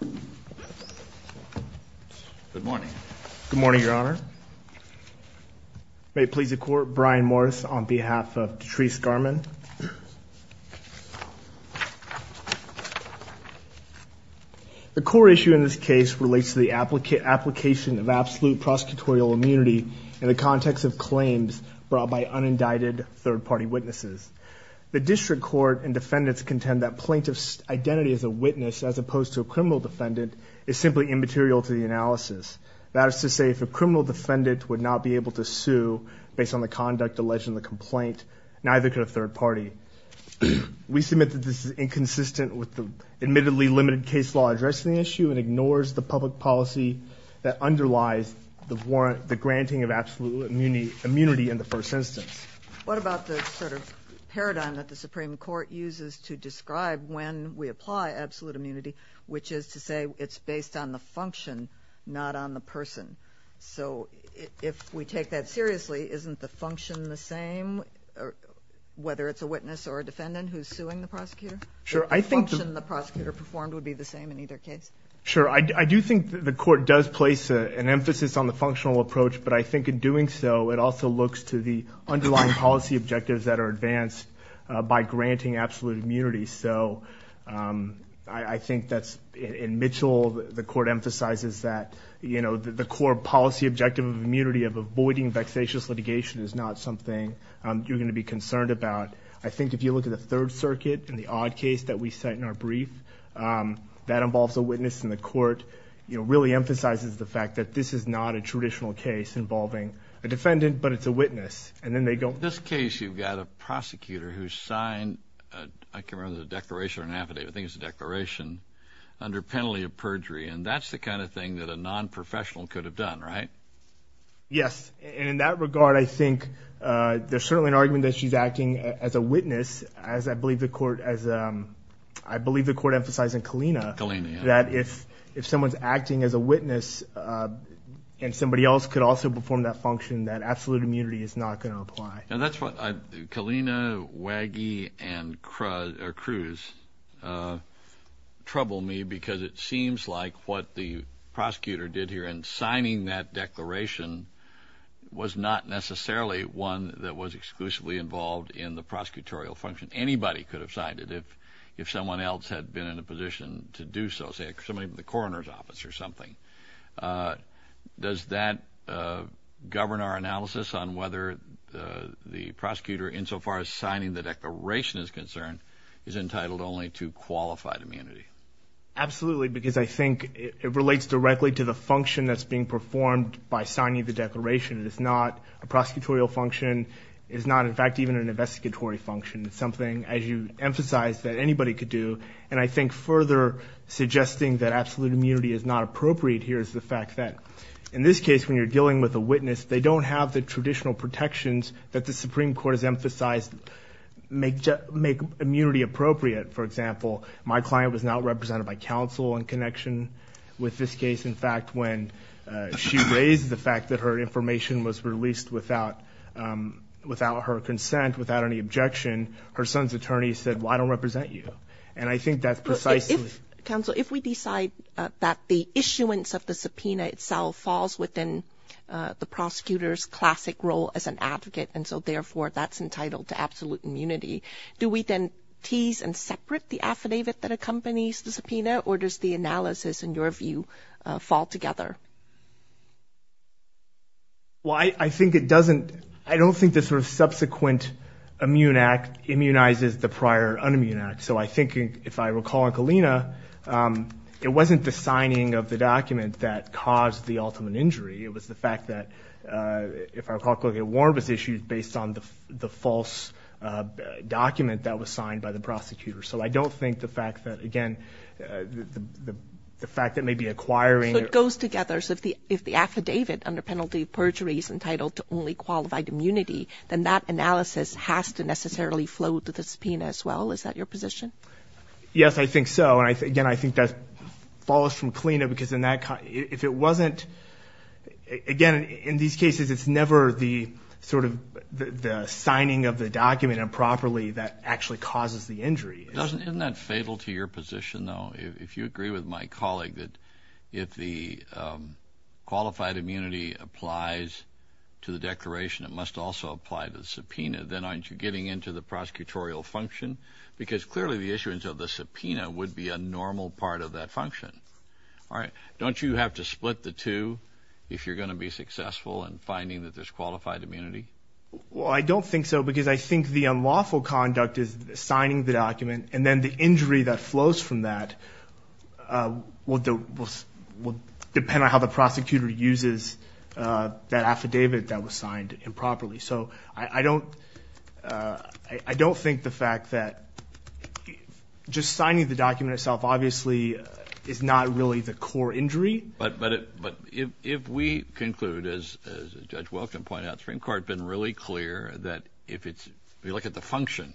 Good morning. Good morning, Your Honor. May it please the Court, Brian Morris on behalf of Detrice Garmon. The core issue in this case relates to the application of absolute prosecutorial immunity in the context of claims brought by unindicted third-party witnesses. The District Court and defendants contend that plaintiff's identity as a witness as opposed to a criminal defendant is simply immaterial to the analysis. That is to say, if a criminal defendant would not be able to sue based on the conduct alleged in the complaint, neither could a third party. We submit that this is inconsistent with the admittedly limited case law addressing the issue and ignores the public policy that underlies the granting of absolute immunity in the first instance. What about the sort of paradigm that the Supreme Court uses to describe when we apply absolute immunity, which is to say it's based on the function, not on the person? So if we take that seriously, isn't the function the same, whether it's a witness or a defendant who's suing the prosecutor? Sure. I think the prosecutor performed would be the same in either case. Sure. I do think the court does place an emphasis on the functional approach, but I think in doing so, it also looks to the underlying policy objectives that are advanced by granting absolute immunity. So I think that's in Mitchell, the court emphasizes that the core policy objective of immunity of avoiding vexatious litigation is not something you're going to be concerned about. I think if you look at the Third Circuit and the odd case that we set in our brief, that involves a witness in the court, really emphasizes the fact that this is not a traditional case involving a defendant, but it's a witness. And then they go. In this case, you've got a prosecutor who signed, I can remember the declaration or an affidavit, I think it's a declaration, under penalty of perjury. And that's the kind of thing that a non-professional could have done, right? Yes. And in that regard, I think there's certainly an argument that she's acting as a witness, as I believe the case, and somebody else could also perform that function, that absolute immunity is not going to apply. And that's what, Kalina, Waggie, and Cruz trouble me because it seems like what the prosecutor did here in signing that declaration was not necessarily one that was exclusively involved in the prosecutorial function. Anybody could have signed it if someone else had been in a position to do so, say somebody from the coroner's office or something. Does that govern our analysis on whether the prosecutor, insofar as signing the declaration is concerned, is entitled only to qualified immunity? Absolutely, because I think it relates directly to the function that's being performed by signing the declaration. It is not a prosecutorial function. It is not, in fact, even an investigatory function. It's something, as you emphasized, that anybody could do. And I think further suggesting that it's not appropriate here is the fact that, in this case, when you're dealing with a witness, they don't have the traditional protections that the Supreme Court has emphasized make immunity appropriate. For example, my client was not represented by counsel in connection with this case. In fact, when she raised the fact that her information was released without her consent, without any objection, her son's attorney said, well, I don't represent you. And I think that's precisely... Counsel, if we decide that the issuance of the subpoena itself falls within the prosecutor's classic role as an advocate, and so therefore that's entitled to absolute immunity, do we then tease and separate the affidavit that accompanies the subpoena, or does the analysis, in your view, fall together? Well, I think it doesn't... I don't think the sort of subsequent immune act immunizes the prior un-immune act. So I think, if I recall on Kalina, it wasn't the signing of the document that caused the ultimate injury. It was the fact that, if I recall correctly, a warrant was issued based on the false document that was signed by the prosecutor. So I don't think the fact that, again, the fact that maybe acquiring... So it goes together. So if the affidavit under penalty of perjury is entitled to only qualified immunity, then that analysis has to necessarily flow to the subpoena as well. Is that your position? Yes, I think so. And again, I think that falls from Kalina, because if it wasn't... Again, in these cases, it's never the sort of the signing of the document improperly that actually causes the injury. Isn't that fatal to your position, though? If you agree with my colleague that if the qualified immunity applies to the declaration, it must also apply to the subpoena, then aren't you getting into the prosecutorial function? Because clearly, the issuance of the subpoena would be a normal part of that function. Don't you have to split the two if you're going to be successful in finding that there's qualified immunity? Well, I don't think so, because I think the unlawful conduct is signing the document, and then the injury that flows from that will depend on how the prosecutor uses that affidavit that was signed improperly. So I don't think the fact that just signing the document itself obviously is not really the core injury. But if we conclude, as Judge Welk can point out, the Supreme Court has been really clear that if we look at the function,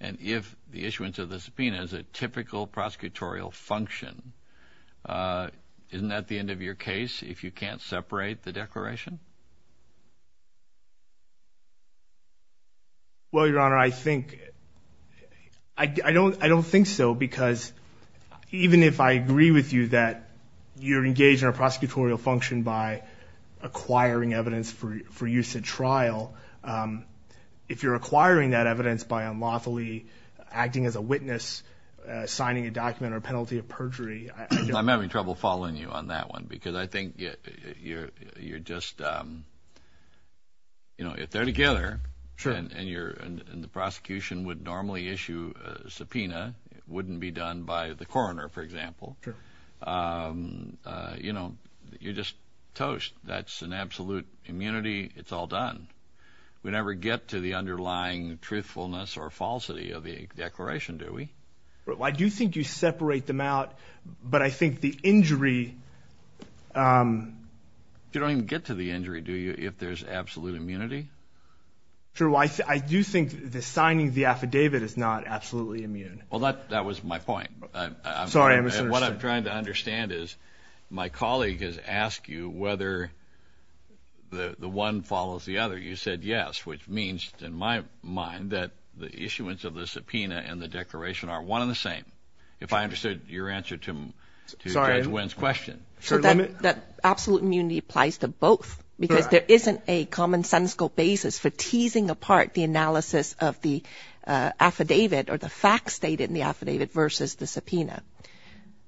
and if the issuance of the subpoena is a typical prosecutorial function, isn't that the end of your case if you can't separate the declaration? Well Your Honor, I don't think so, because even if I agree with you that you're engaged in a prosecutorial function by acquiring evidence for use at trial, if you're acquiring that guilty of perjury... I'm having trouble following you on that one, because I think you're just, you know, if they're together, and the prosecution would normally issue a subpoena, it wouldn't be done by the coroner, for example, you know, you're just toast. That's an absolute immunity. It's all done. We never get to the underlying truthfulness or falsity of the declaration, do we? I do think you separate them out, but I think the injury... You don't even get to the injury, do you, if there's absolute immunity? True. I do think the signing of the affidavit is not absolutely immune. Well, that was my point. Sorry, I misunderstood. What I'm trying to understand is, my colleague has asked you whether the one follows the other. You said yes, which means, in my mind, that the issuance of the subpoena and the declaration are one and the same, if I understood your answer to Judge Wynn's question. So, that absolute immunity applies to both, because there isn't a commonsensical basis for teasing apart the analysis of the affidavit or the facts stated in the affidavit versus the subpoena.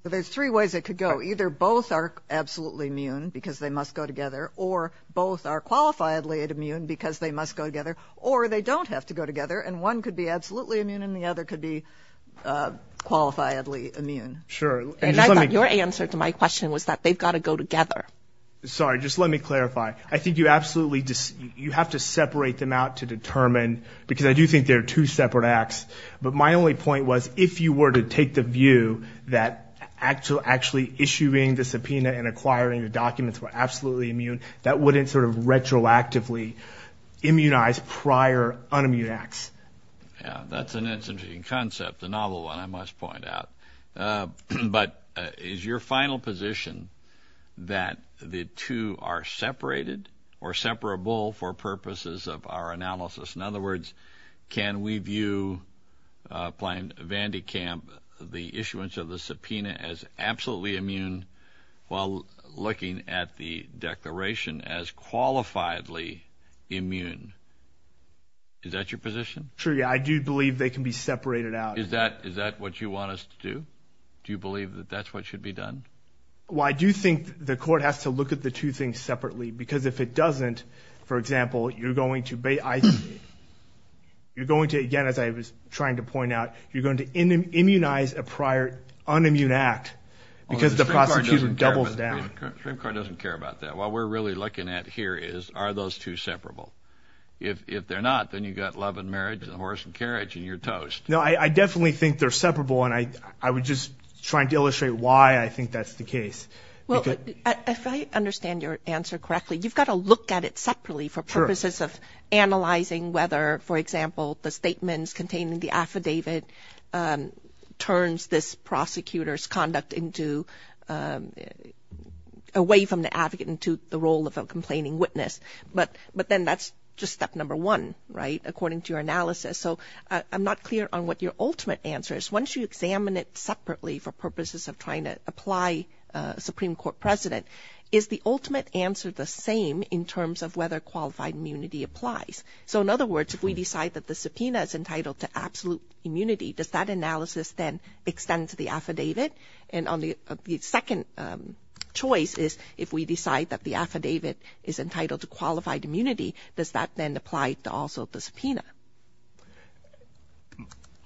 Well, there's three ways it could go. Either both are absolutely immune, because they must go together, or both are qualifiedly immune, because they must go together, or they don't have to go together. And one could be absolutely immune, and the other could be qualifiedly immune. Sure. And I thought your answer to my question was that they've got to go together. Sorry, just let me clarify. I think you absolutely... You have to separate them out to determine, because I do think they're two separate acts. But my only point was, if you were to take the view that actually issuing the subpoena and acquiring the documents were absolutely retroactively immunized prior unimmune acts. Yeah, that's an interesting concept, a novel one, I must point out. But is your final position that the two are separated or separable for purposes of our analysis? In other words, can we view, applying Van de Kamp, the issuance of the subpoena as absolutely immune, while looking at the declaration as qualifiedly immune? Is that your position? Sure, yeah. I do believe they can be separated out. Is that what you want us to do? Do you believe that that's what should be done? Well, I do think the court has to look at the two things separately, because if it doesn't, for example, you're going to, again, as I was trying to point out, you're going to immunize a prior unimmune act, because the prosecution doubles down. The Supreme Court doesn't care about that. What we're really looking at here is, are those two separable? If they're not, then you've got love and marriage and the horse and carriage, and you're toast. No, I definitely think they're separable, and I was just trying to illustrate why I think that's the case. Well, if I understand your answer correctly, you've got to look at it separately for purposes of analyzing whether, for example, the statements containing the affidavit turns this prosecutor's conduct away from the advocate into the role of a complaining witness. But then that's just step number one, right, according to your analysis. So I'm not clear on what your ultimate answer is. Once you examine it separately for purposes of trying to apply Supreme Court precedent, is the ultimate answer the same in terms of whether qualified immunity applies? So in other words, if we decide that the subpoena is entitled to absolute immunity, does that analysis then extend to the affidavit? And on the second choice is, if we decide that the affidavit is entitled to qualified immunity, does that then apply to also the subpoena?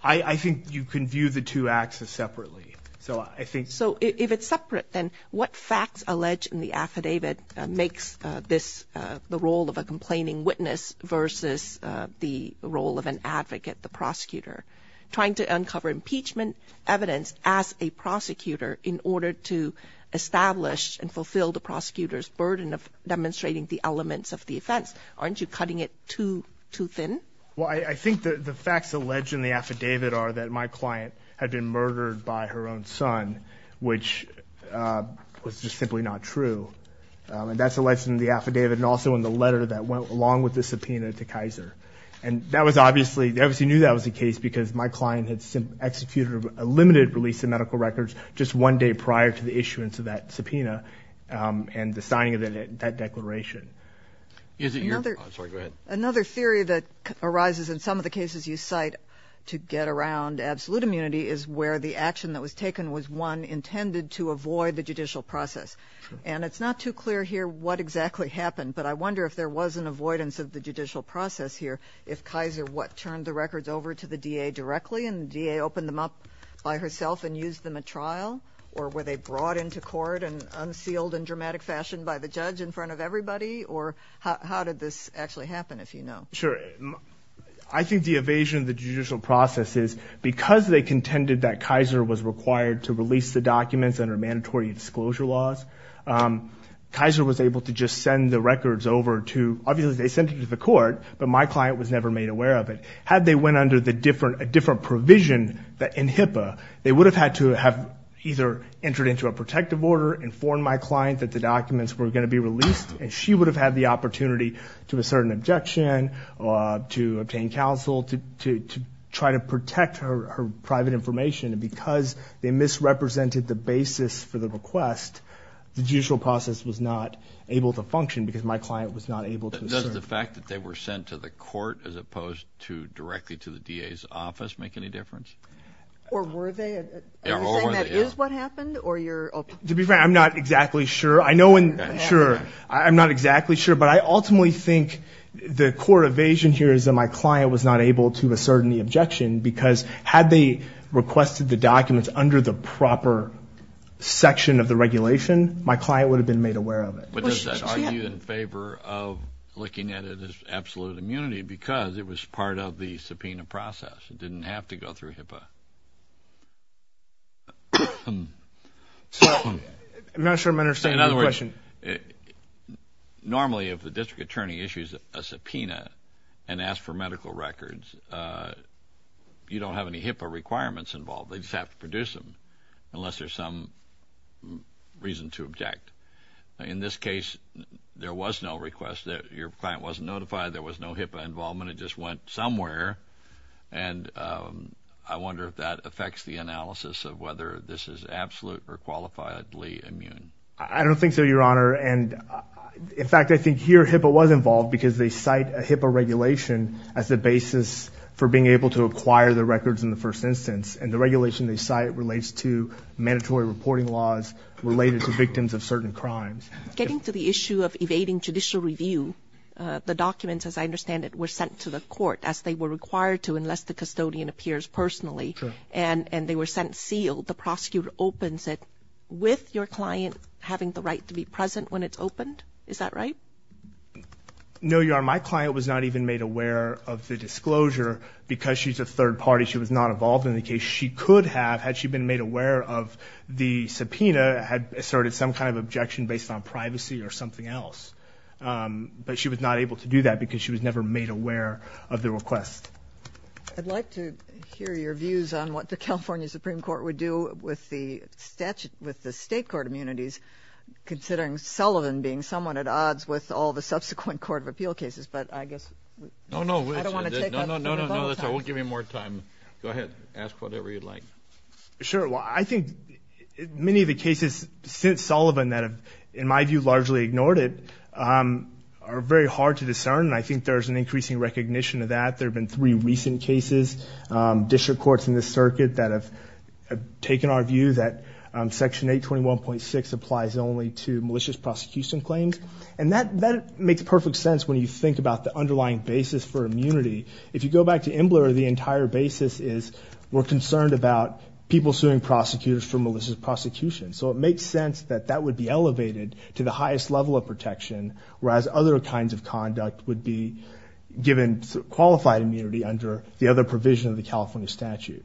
I think you can view the two acts as separately. So I think... If they're separate, then what facts allege in the affidavit makes this the role of a complaining witness versus the role of an advocate, the prosecutor? Trying to uncover impeachment evidence as a prosecutor in order to establish and fulfill the prosecutor's burden of demonstrating the elements of the offense. Aren't you cutting it too thin? Well, I think the facts alleged in the affidavit are that my client had been murdered by her own son, which was just simply not true. And that's alleged in the affidavit and also in the letter that went along with the subpoena to Kaiser. And that was obviously, they obviously knew that was the case because my client had executed a limited release of medical records just one day prior to the issuance of that subpoena and the signing of that declaration. Another theory that arises in some of the cases you cite to get around absolute immunity is where the action that was taken was, one, intended to avoid the judicial process. And it's not too clear here what exactly happened, but I wonder if there was an avoidance of the judicial process here. If Kaiser, what, turned the records over to the DA directly and the DA opened them up by herself and used them at trial? Or were they brought into court and unsealed in dramatic fashion by the judge in front of everybody? Or how did this actually happen, if you know? Sure. I think the evasion of the judicial process is because they contended that Kaiser was required to release the documents under mandatory disclosure laws, Kaiser was able to just send the records over to, obviously they sent it to the court, but my client was never made aware of it. Had they went under the different, a different provision in HIPAA, they would have had to have either entered into a protective order, informed my client that the documents were going to be released, and she would have had the opportunity to assert an objection, or to obtain counsel, to try to protect her private information. Because they misrepresented the basis for the request, the judicial process was not able to function because my client was not able to assert. Does the fact that they were sent to the court as opposed to directly to the DA's office make any difference? Or were they? Are you saying that is what happened? Or you're... To be fair, I'm not exactly sure. I know in... Sure. I'm not exactly sure, but I ultimately think the core evasion here is that my client was not able to assert any objection because had they requested the documents under the proper section of the regulation, my client would have been made aware of it. But does that argue in favor of looking at it as absolute immunity because it was part of the subpoena process? It didn't have to go through HIPAA? I'm not sure I'm understanding your question. Normally if a district attorney issues a subpoena and asks for medical records, you don't have any HIPAA requirements involved. They just have to produce them unless there's some reason to object. In this case, there was no request. Your client wasn't notified. There was no HIPAA involvement. The subpoena just went somewhere. And I wonder if that affects the analysis of whether this is absolute or qualifiably immune. I don't think so, Your Honor. And in fact, I think here HIPAA was involved because they cite a HIPAA regulation as the basis for being able to acquire the records in the first instance. And the regulation they cite relates to mandatory reporting laws related to victims of certain crimes. Getting to the issue of evading judicial review, the documents, as I understand it, were sent to the court as they were required to unless the custodian appears personally. And they were sent sealed. The prosecutor opens it with your client having the right to be present when it's opened. Is that right? No, Your Honor. My client was not even made aware of the disclosure because she's a third party. She was not involved in the case. She could have, had she been made aware of the subpoena, had asserted some kind of objection based on privacy or something else. But she was not able to do that because she was never made aware of the request. I'd like to hear your views on what the California Supreme Court would do with the statute, with the state court immunities, considering Sullivan being somewhat at odds with all the subsequent court of appeal cases. But I guess I don't want to take on the vote of all time. No, no, no. We'll give you more time. Go ahead. Ask whatever you'd like. Sure. Well, I think many of the cases since Sullivan that have, in my view, largely ignored it are very hard to discern. I think there's an increasing recognition of that. There have been three recent cases, district courts in the circuit that have taken our view that Section 821.6 applies only to malicious prosecution claims. And that makes perfect sense when you think about the underlying basis for immunity. If you go back to Imbler, the entire basis is we're concerned about people suing prosecutors for malicious prosecution. So it makes sense that that would be elevated to the highest level of protection, whereas other kinds of conduct would be given qualified immunity under the other provision of the California statute.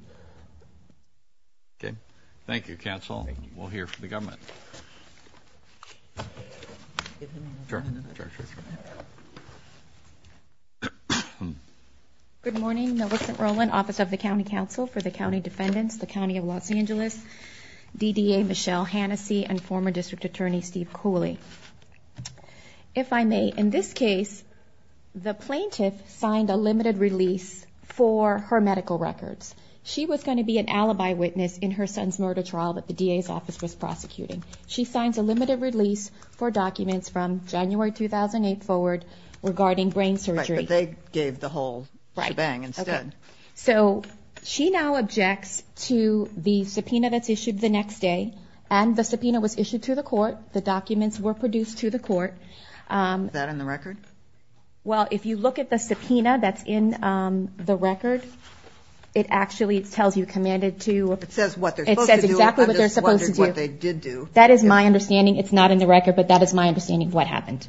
Good morning, Melissa Rowland, Office of the County Counsel for the County Defendants, the County of Los Angeles, DDA, Michelle Hannessey, and former District Attorney Steve Cooley. If I may, in this case, the plaintiff signed a limited release for her medical records. She was going to be an alibi witness in her son's murder trial that the DA's office was prosecuting. She signs a limited release for documents from January 2008 forward regarding brain surgery. Right, but they gave the whole shebang instead. So she now objects to the subpoena that's issued the next day. And the subpoena was issued to the court. The documents were produced to the court. Is that in the record? Well, if you look at the subpoena that's in the record, it actually tells you, commanded to... It says what they're supposed to do. It says exactly what they're supposed to do. I'm just wondering what they did do. That is my understanding. It's not in the record, but that is my understanding of what happened.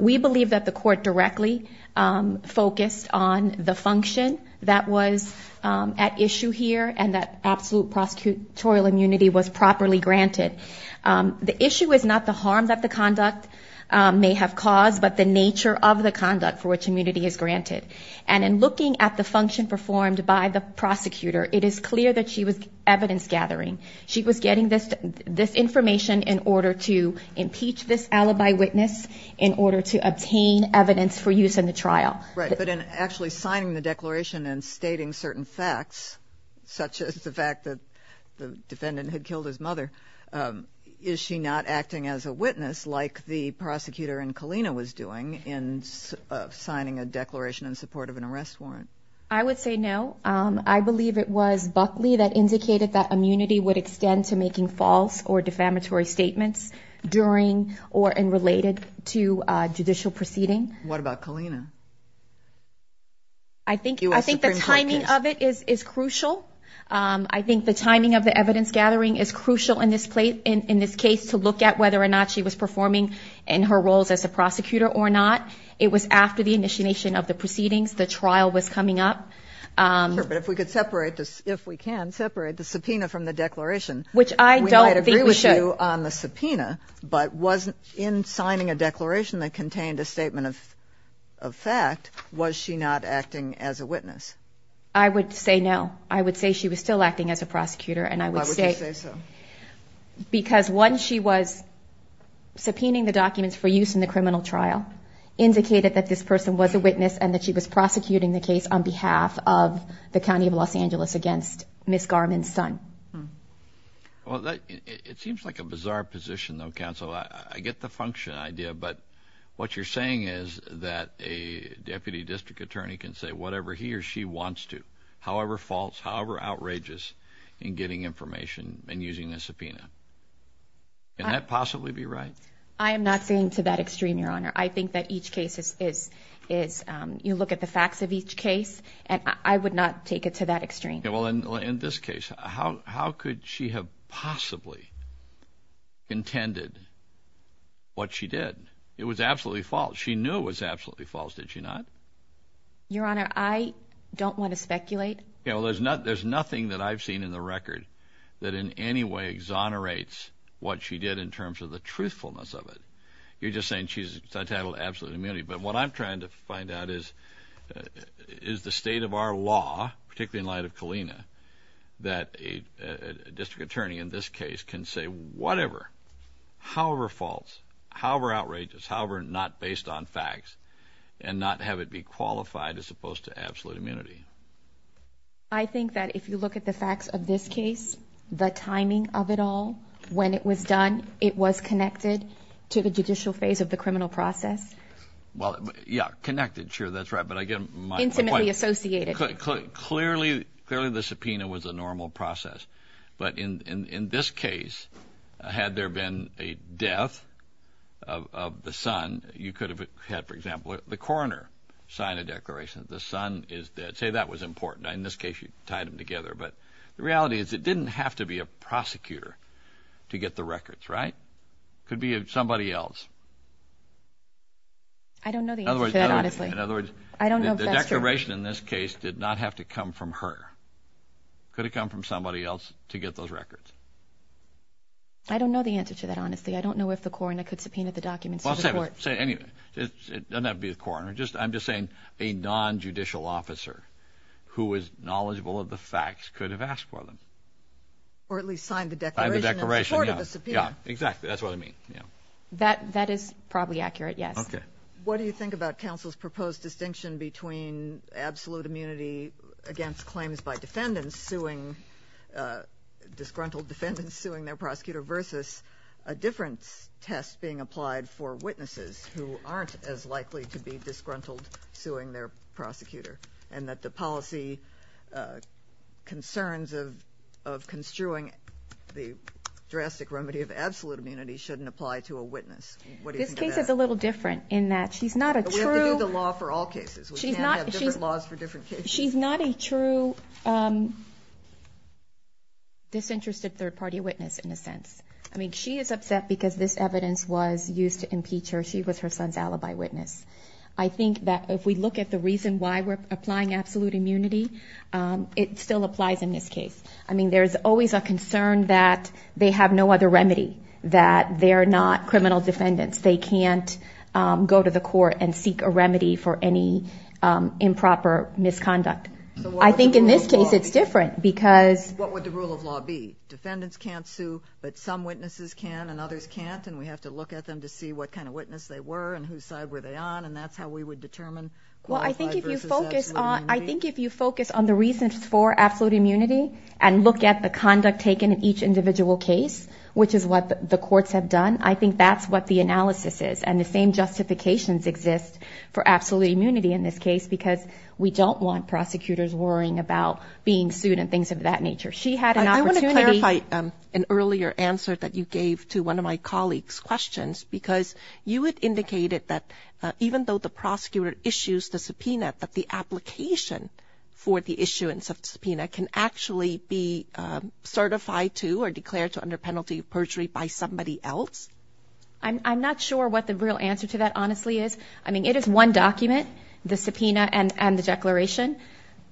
We believe that the court directly focused on the function that was at issue here and that absolute prosecutorial immunity was properly granted. The issue is not the harm that the conduct may have caused, but the nature of the conduct for which immunity is granted. And in looking at the function performed by the prosecutor, it is clear that she was evidence in order to obtain evidence for use in the trial. Right, but in actually signing the declaration and stating certain facts, such as the fact that the defendant had killed his mother, is she not acting as a witness like the prosecutor in Kalina was doing in signing a declaration in support of an arrest warrant? I would say no. I believe it was Buckley that indicated that immunity would extend to making false or defamatory statements during or related to a judicial proceeding. What about Kalina? I think the timing of it is crucial. I think the timing of the evidence gathering is crucial in this case to look at whether or not she was performing in her roles as a prosecutor or not. It was after the initiation of the proceedings, the trial was coming up. But if we can separate the subpoena from the declaration, we might agree with you on the subpoena, but in signing a declaration that contained a statement of fact, was she not acting as a witness? I would say no. I would say she was still acting as a prosecutor. Why would you say so? Because once she was subpoenaing the documents for use in the criminal trial, indicated that this person was a witness and that she was prosecuting the case on behalf of the County of Los Angeles against Ms. Garman's son. It seems like a bizarre position though, counsel. I get the function idea, but what you're saying is that a deputy district attorney can say whatever he or she wants to, however false, however outrageous, in getting information and using a subpoena. Can that possibly be right? I am not saying to that extreme, Your Honor. I think that each case is, you look at the facts of each case, and I would not take it to that extreme. Well, in this case, how could she have possibly intended what she did? It was absolutely false. She knew it was absolutely false, did she not? Your Honor, I don't want to speculate. Yeah, well, there's nothing that I've seen in the record that in any way exonerates what she did in terms of the truthfulness of it. You're just saying she's entitled to absolute immunity, but what I'm trying to find out is, is the state of our law, particularly in light of Kalina, that a district attorney in this case can say whatever, however false, however outrageous, however not based on facts, and not have it be qualified as opposed to absolute immunity. I think that if you look at the facts of this case, the timing of it all, when it was done, it was connected to the judicial phase of the criminal process. Well, yeah, connected, sure, that's right, but I get my point. Intimately associated. Clearly, clearly the subpoena was a normal process, but in this case, had there been a death of the son, you could have had, for example, the coroner sign a declaration that the son is dead. Say that was important. In this case, you tied them together, but the reality is it didn't have to be a prosecutor to get the records, right? It could be somebody else. I don't know the answer to that, honestly. In other words, the declaration in this case did not have to come from her. It could have come from somebody else to get those records. I don't know the answer to that, honestly. I don't know if the coroner could subpoena the documents to the court. It doesn't have to be the coroner. I'm just saying a non-judicial officer who is knowledgeable of the facts could have asked for them. Or at least signed the declaration in support of the subpoena. Yeah, exactly, that's what I mean. That is probably accurate, yes. Okay. What do you think about counsel's proposed distinction between absolute immunity against claims by defendants suing, disgruntled defendants suing their prosecutor, versus a difference test being applied for witnesses who aren't as likely to be disgruntled suing their prosecutor, and that the policy concerns of construing the drastic remedy of absolute immunity shouldn't apply to a witness? What do you think of that? This case is a little different in that she's not a true... We have to do the law for all cases. We can't have different laws for different cases. She's not a true disinterested third-party witness, in a sense. I mean, she is upset because this evidence was used to impeach her. She was her son's alibi witness. I think that if we look at the reason why we're applying absolute immunity, it still applies in this case. I mean, there's always a concern that they have no other remedy, that they're not criminal defendants. They can't go to the court and seek a remedy for any improper misconduct. I think in this case it's different because... We always can't, and we have to look at them to see what kind of witness they were, and whose side were they on, and that's how we would determine... Well, I think if you focus on the reasons for absolute immunity and look at the conduct taken in each individual case, which is what the courts have done, I think that's what the analysis is, and the same justifications exist for absolute immunity in this case because we don't want prosecutors worrying about being sued and things of that nature. I want to clarify an earlier answer that you gave to one of my colleagues' questions because you had indicated that even though the prosecutor issues the subpoena, that the application for the issuance of the subpoena can actually be certified to or declared to under penalty of perjury by somebody else? I'm not sure what the real answer to that honestly is. I mean, it is one document, the subpoena and the declaration.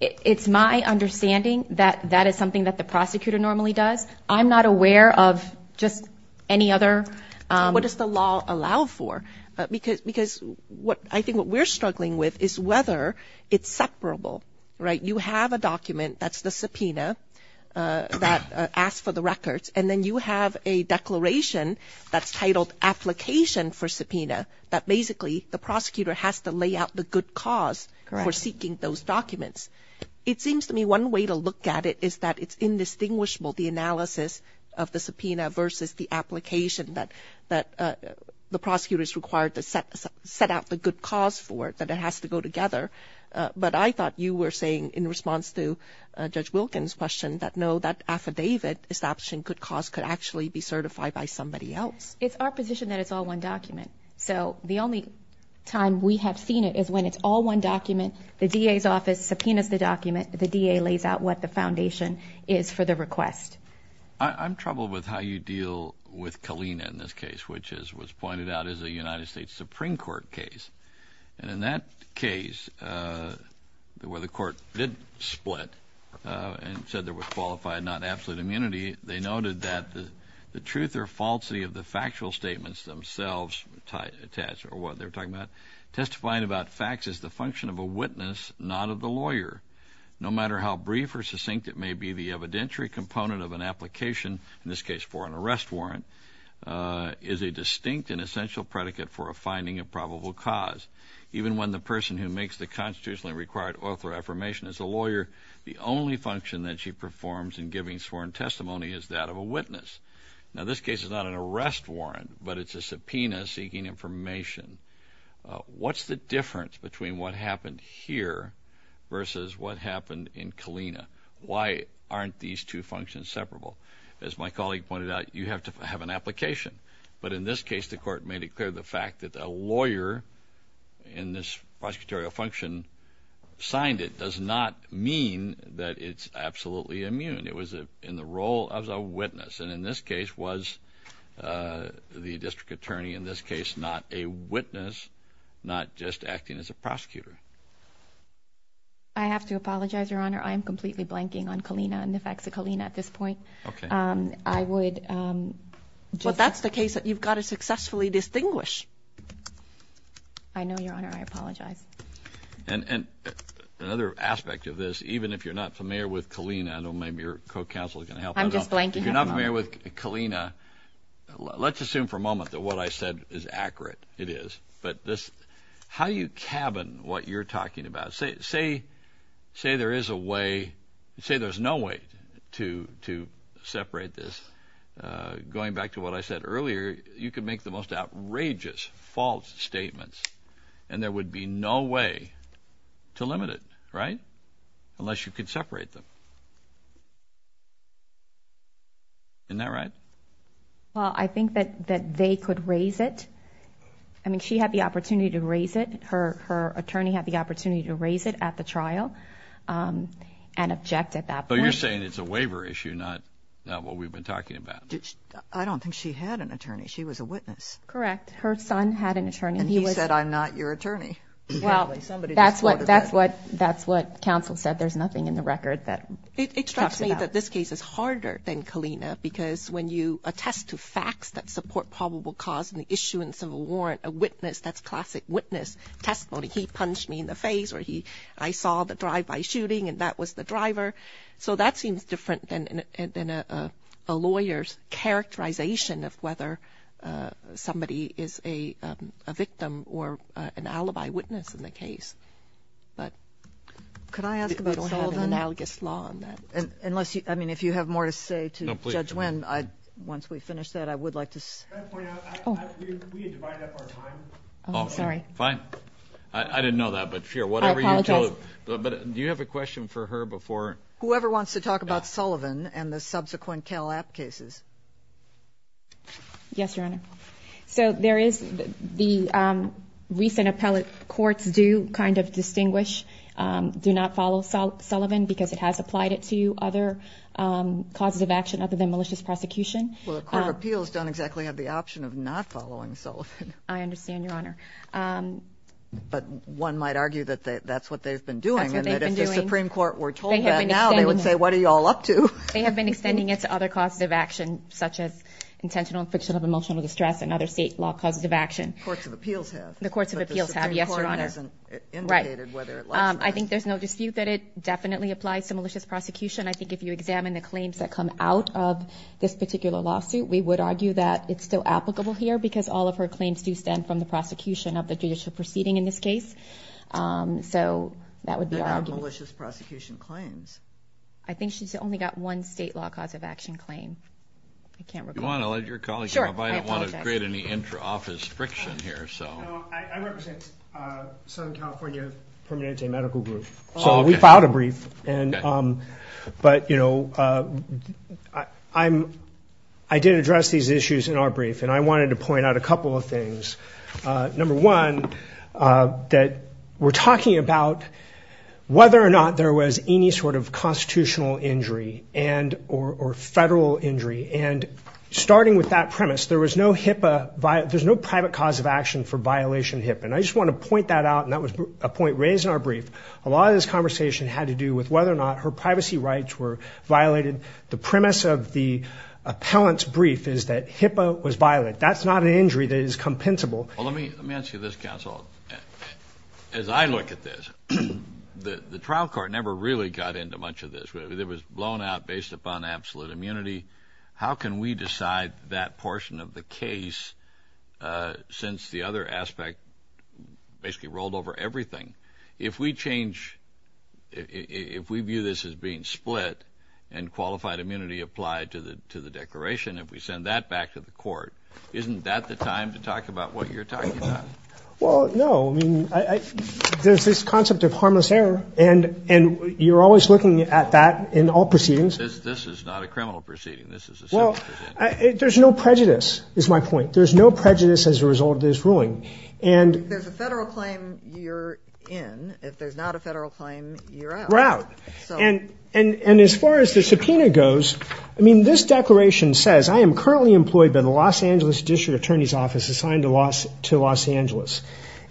It's my understanding that that is something that the prosecutor normally does. I'm not aware of just any other... What does the law allow for? Because I think what we're struggling with is whether it's separable, right? You have a document that's the subpoena that asks for the records, and then you have a declaration that's titled application for subpoena that basically the prosecutor has to lay out the good cause for seeking those documents. It seems to me one way to look at it is that it's indistinguishable, the analysis of the subpoena versus the application that the prosecutor is required to set out the good cause for, that it has to go together. But I thought you were saying, in response to Judge Wilkins' question, that no, that affidavit establishing good cause could actually be certified by somebody else. It's our position that it's all one document. So the only time we have seen it is when it's all one document, the DA's office subpoenas the document, the DA lays out what the foundation is for the request. I'm troubled with how you deal with Kalina in this case, which was pointed out as a United States Supreme Court case. And in that case, where the court did split and said there was qualified, not absolute immunity, they noted that the truth or falsity of the factual statements themselves attached, or what they were talking about, testifying about facts is the function of a witness, not of the lawyer. No matter how brief or succinct it may be, the evidentiary component of an application, in this case for an arrest warrant, is a distinct and essential predicate for a finding of probable cause. Even when the person who makes the constitutionally required oath or affirmation is a lawyer, the only function that she performs in giving sworn testimony is that of a witness. Now, this case is not an arrest warrant, but it's a subpoena seeking information. What's the difference between what happened here versus what happened in Kalina? Why aren't these two functions separable? As my colleague pointed out, you have to have an application. But in this case, the court made it clear the fact that a lawyer in this prosecutorial function signed it does not mean that it's absolutely immune. It was in the role of a witness, and in this case was the district attorney in this case not a witness, not just acting as a prosecutor. I have to apologize, Your Honor. I am completely blanking on Kalina and the facts of Kalina at this point. Okay. I would just— But that's the case that you've got to successfully distinguish. I know, Your Honor. I apologize. And another aspect of this, even if you're not familiar with Kalina, I don't know if your co-counsel is going to help. I'm just blanking. If you're not familiar with Kalina, let's assume for a moment that what I said is accurate. It is. But how do you cabin what you're talking about? Say there is a way—say there's no way to separate this. Going back to what I said earlier, you could make the most outrageous false statements, and there would be no way to limit it, right, unless you could separate them. Isn't that right? Well, I think that they could raise it. I mean, she had the opportunity to raise it. Her attorney had the opportunity to raise it at the trial and object at that point. But you're saying it's a waiver issue, not what we've been talking about. I don't think she had an attorney. She was a witness. Correct. Her son had an attorney. And he said, I'm not your attorney. Well, that's what counsel said. There's nothing in the record that— It strikes me that this case is harder than Kalina because when you attest to facts that support probable cause and the issuance of a warrant, a witness, that's classic witness testimony. He punched me in the face, or I saw the drive-by shooting, and that was the driver. So that seems different than a lawyer's characterization of whether somebody is a victim or an alibi witness in the case. Could I ask about Sullivan? We don't have an analogous law on that. I mean, if you have more to say to Judge Wynn, once we finish that, I would like to— Can I point out, we had divided up our time. Oh, sorry. Fine. I apologize. Do you have a question for her before— Whoever wants to talk about Sullivan and the subsequent Cal App cases. Yes, Your Honor. So there is the recent appellate courts do kind of distinguish, do not follow Sullivan because it has applied it to other causes of action other than malicious prosecution. Well, the Court of Appeals don't exactly have the option of not following Sullivan. I understand, Your Honor. But one might argue that that's what they've been doing. That's what they've been doing. And that if the Supreme Court were told that now, they would say, what are you all up to? They have been extending it to other causes of action, such as intentional and fictional emotional distress and other state law causes of action. The Courts of Appeals have. The Courts of Appeals have, yes, Your Honor. But the Supreme Court hasn't indicated whether it likes or not. I think there's no dispute that it definitely applies to malicious prosecution. I think if you examine the claims that come out of this particular lawsuit, we would argue that it's still applicable here because all of her claims do stand from the prosecution of the judicial proceeding in this case. So that would be our argument. They're not malicious prosecution claims. I think she's only got one state law cause of action claim. I can't recall. Do you want to let your colleague— Sure. I apologize. I don't want to create any intra-office friction here, so. I represent Southern California Permanente Medical Group. So we filed a brief. But, you know, I did address these issues in our brief, and I wanted to point out a couple of things. Number one, that we're talking about whether or not there was any sort of constitutional injury and—or federal injury. And starting with that premise, there was no HIPAA—there's no private cause of action for violation of HIPAA. And I just want to point that out, and that was a point raised in our brief. A lot of this conversation had to do with whether or not her privacy rights were violated. The premise of the appellant's brief is that HIPAA was violated. That's not an injury that is compensable. Well, let me ask you this, counsel. As I look at this, the trial court never really got into much of this. It was blown out based upon absolute immunity. How can we decide that portion of the case since the other aspect basically rolled over everything? If we change—if we view this as being split and qualified immunity applied to the declaration, if we send that back to the court, isn't that the time to talk about what you're talking about? Well, no. I mean, there's this concept of harmless error, and you're always looking at that in all proceedings. This is not a criminal proceeding. This is a civil proceeding. Well, there's no prejudice, is my point. There's no prejudice as a result of this ruling. If there's a federal claim, you're in. If there's not a federal claim, you're out. You're out. And as far as the subpoena goes, I mean, this declaration says, I am currently employed by the Los Angeles District Attorney's Office assigned to Los Angeles.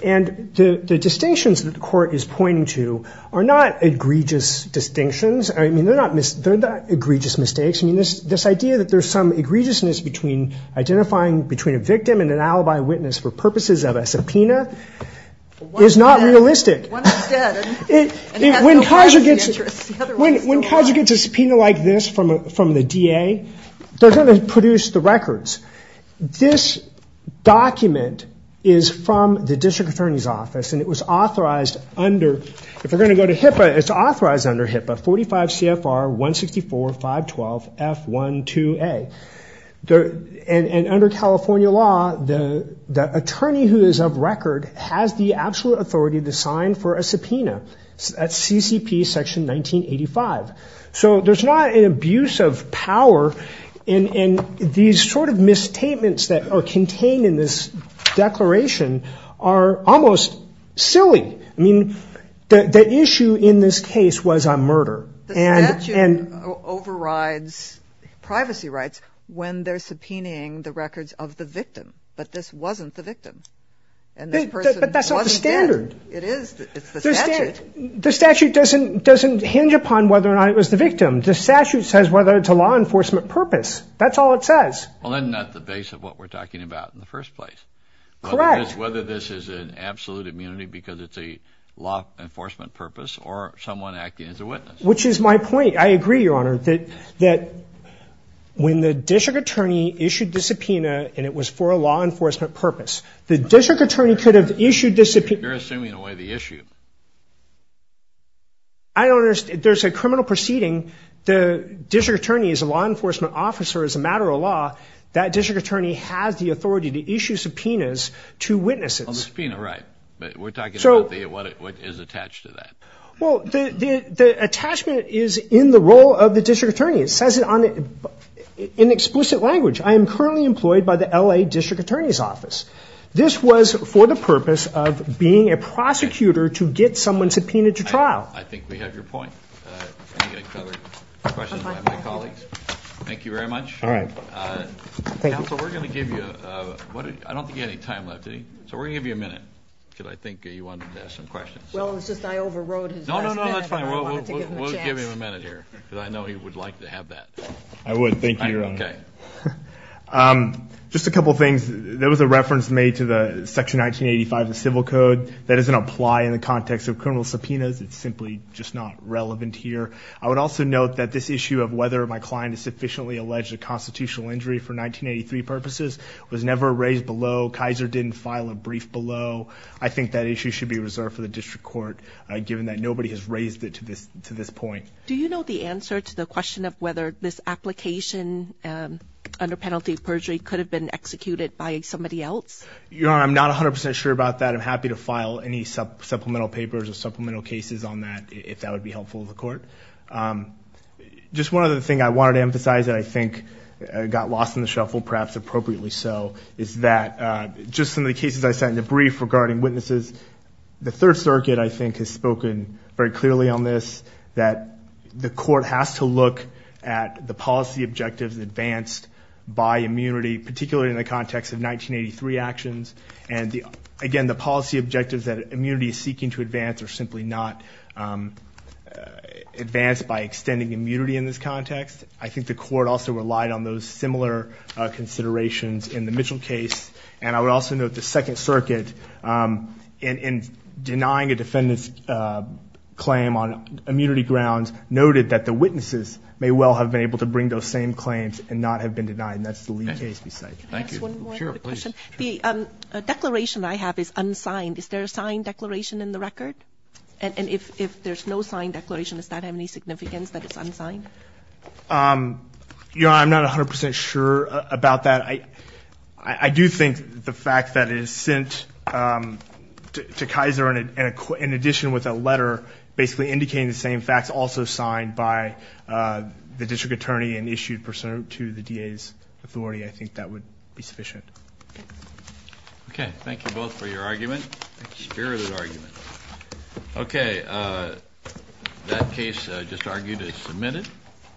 And the distinctions that the court is pointing to are not egregious distinctions. I mean, they're not egregious mistakes. I mean, this idea that there's some egregiousness between identifying between a victim and an alibi witness for purposes of a subpoena is not realistic. When Kaiser gets a subpoena like this from the DA, they're going to produce the records. This document is from the District Attorney's Office, and it was authorized under, if we're going to go to HIPAA, it's authorized under HIPAA, 45 CFR 164.512.F12A. And under California law, the attorney who is of record has the absolute authority to sign for a subpoena. That's CCP Section 1985. So there's not an abuse of power, and these sort of misstatements that are contained in this declaration are almost silly. I mean, the issue in this case was a murder. The statute overrides privacy rights when they're subpoenaing the records of the victim. But this wasn't the victim. But that's not the standard. It is. It's the statute. The statute doesn't hinge upon whether or not it was the victim. The statute says whether it's a law enforcement purpose. That's all it says. Well, isn't that the base of what we're talking about in the first place? Correct. Whether this is an absolute immunity because it's a law enforcement purpose or someone acting as a witness. Which is my point. I agree, Your Honor, that when the district attorney issued the subpoena and it was for a law enforcement purpose, the district attorney could have issued the subpoena. You're assuming away the issue. I don't understand. There's a criminal proceeding. The district attorney is a law enforcement officer as a matter of law. That district attorney has the authority to issue subpoenas to witnesses. Subpoena, right. But we're talking about what is attached to that. Well, the attachment is in the role of the district attorney. It says it in explicit language. I am currently employed by the L.A. District Attorney's Office. This was for the purpose of being a prosecutor to get someone subpoenaed to trial. I think we have your point. I think I covered questions by my colleagues. Thank you very much. All right. Thank you. Counsel, we're going to give you a minute. So we're going to give you a minute because I think you wanted to ask some questions. Well, it's just I overrode his last minute. No, no, no, that's fine. We'll give him a minute here because I know he would like to have that. I would. Thank you, Your Honor. Okay. Just a couple of things. There was a reference made to Section 1985 of the Civil Code. That doesn't apply in the context of criminal subpoenas. It's simply just not relevant here. I would also note that this issue of whether my client has sufficiently alleged a constitutional injury for 1983 purposes was never raised below. Kaiser didn't file a brief below. I think that issue should be reserved for the district court given that nobody has raised it to this point. Do you know the answer to the question of whether this application under penalty of perjury could have been executed by somebody else? Your Honor, I'm not 100% sure about that. I'm happy to file any supplemental papers or supplemental cases on that if that would be helpful to the court. Just one other thing I wanted to emphasize that I think got lost in the shuffle, perhaps appropriately so, is that just some of the cases I said in the brief regarding witnesses, the Third Circuit, I think, has spoken very clearly on this, that the court has to look at the policy objectives advanced by immunity, particularly in the context of 1983 actions. And, again, the policy objectives that immunity is seeking to advance are simply not advanced by extending immunity in this context. I think the court also relied on those similar considerations in the Mitchell case. And I would also note the Second Circuit, in denying a defendant's claim on immunity grounds, noted that the witnesses may well have been able to bring those same claims and not have been denied, and that's the Lee case besides. Thank you. The declaration I have is unsigned. Is there a signed declaration in the record? And if there's no signed declaration, does that have any significance that it's unsigned? Your Honor, I'm not 100% sure about that. I do think the fact that it is sent to Kaiser in addition with a letter basically indicating the same facts, and also signed by the district attorney and issued pursuant to the DA's authority, I think that would be sufficient. Okay. Thank you both for your argument. It's a very good argument. Okay. That case just argued is submitted.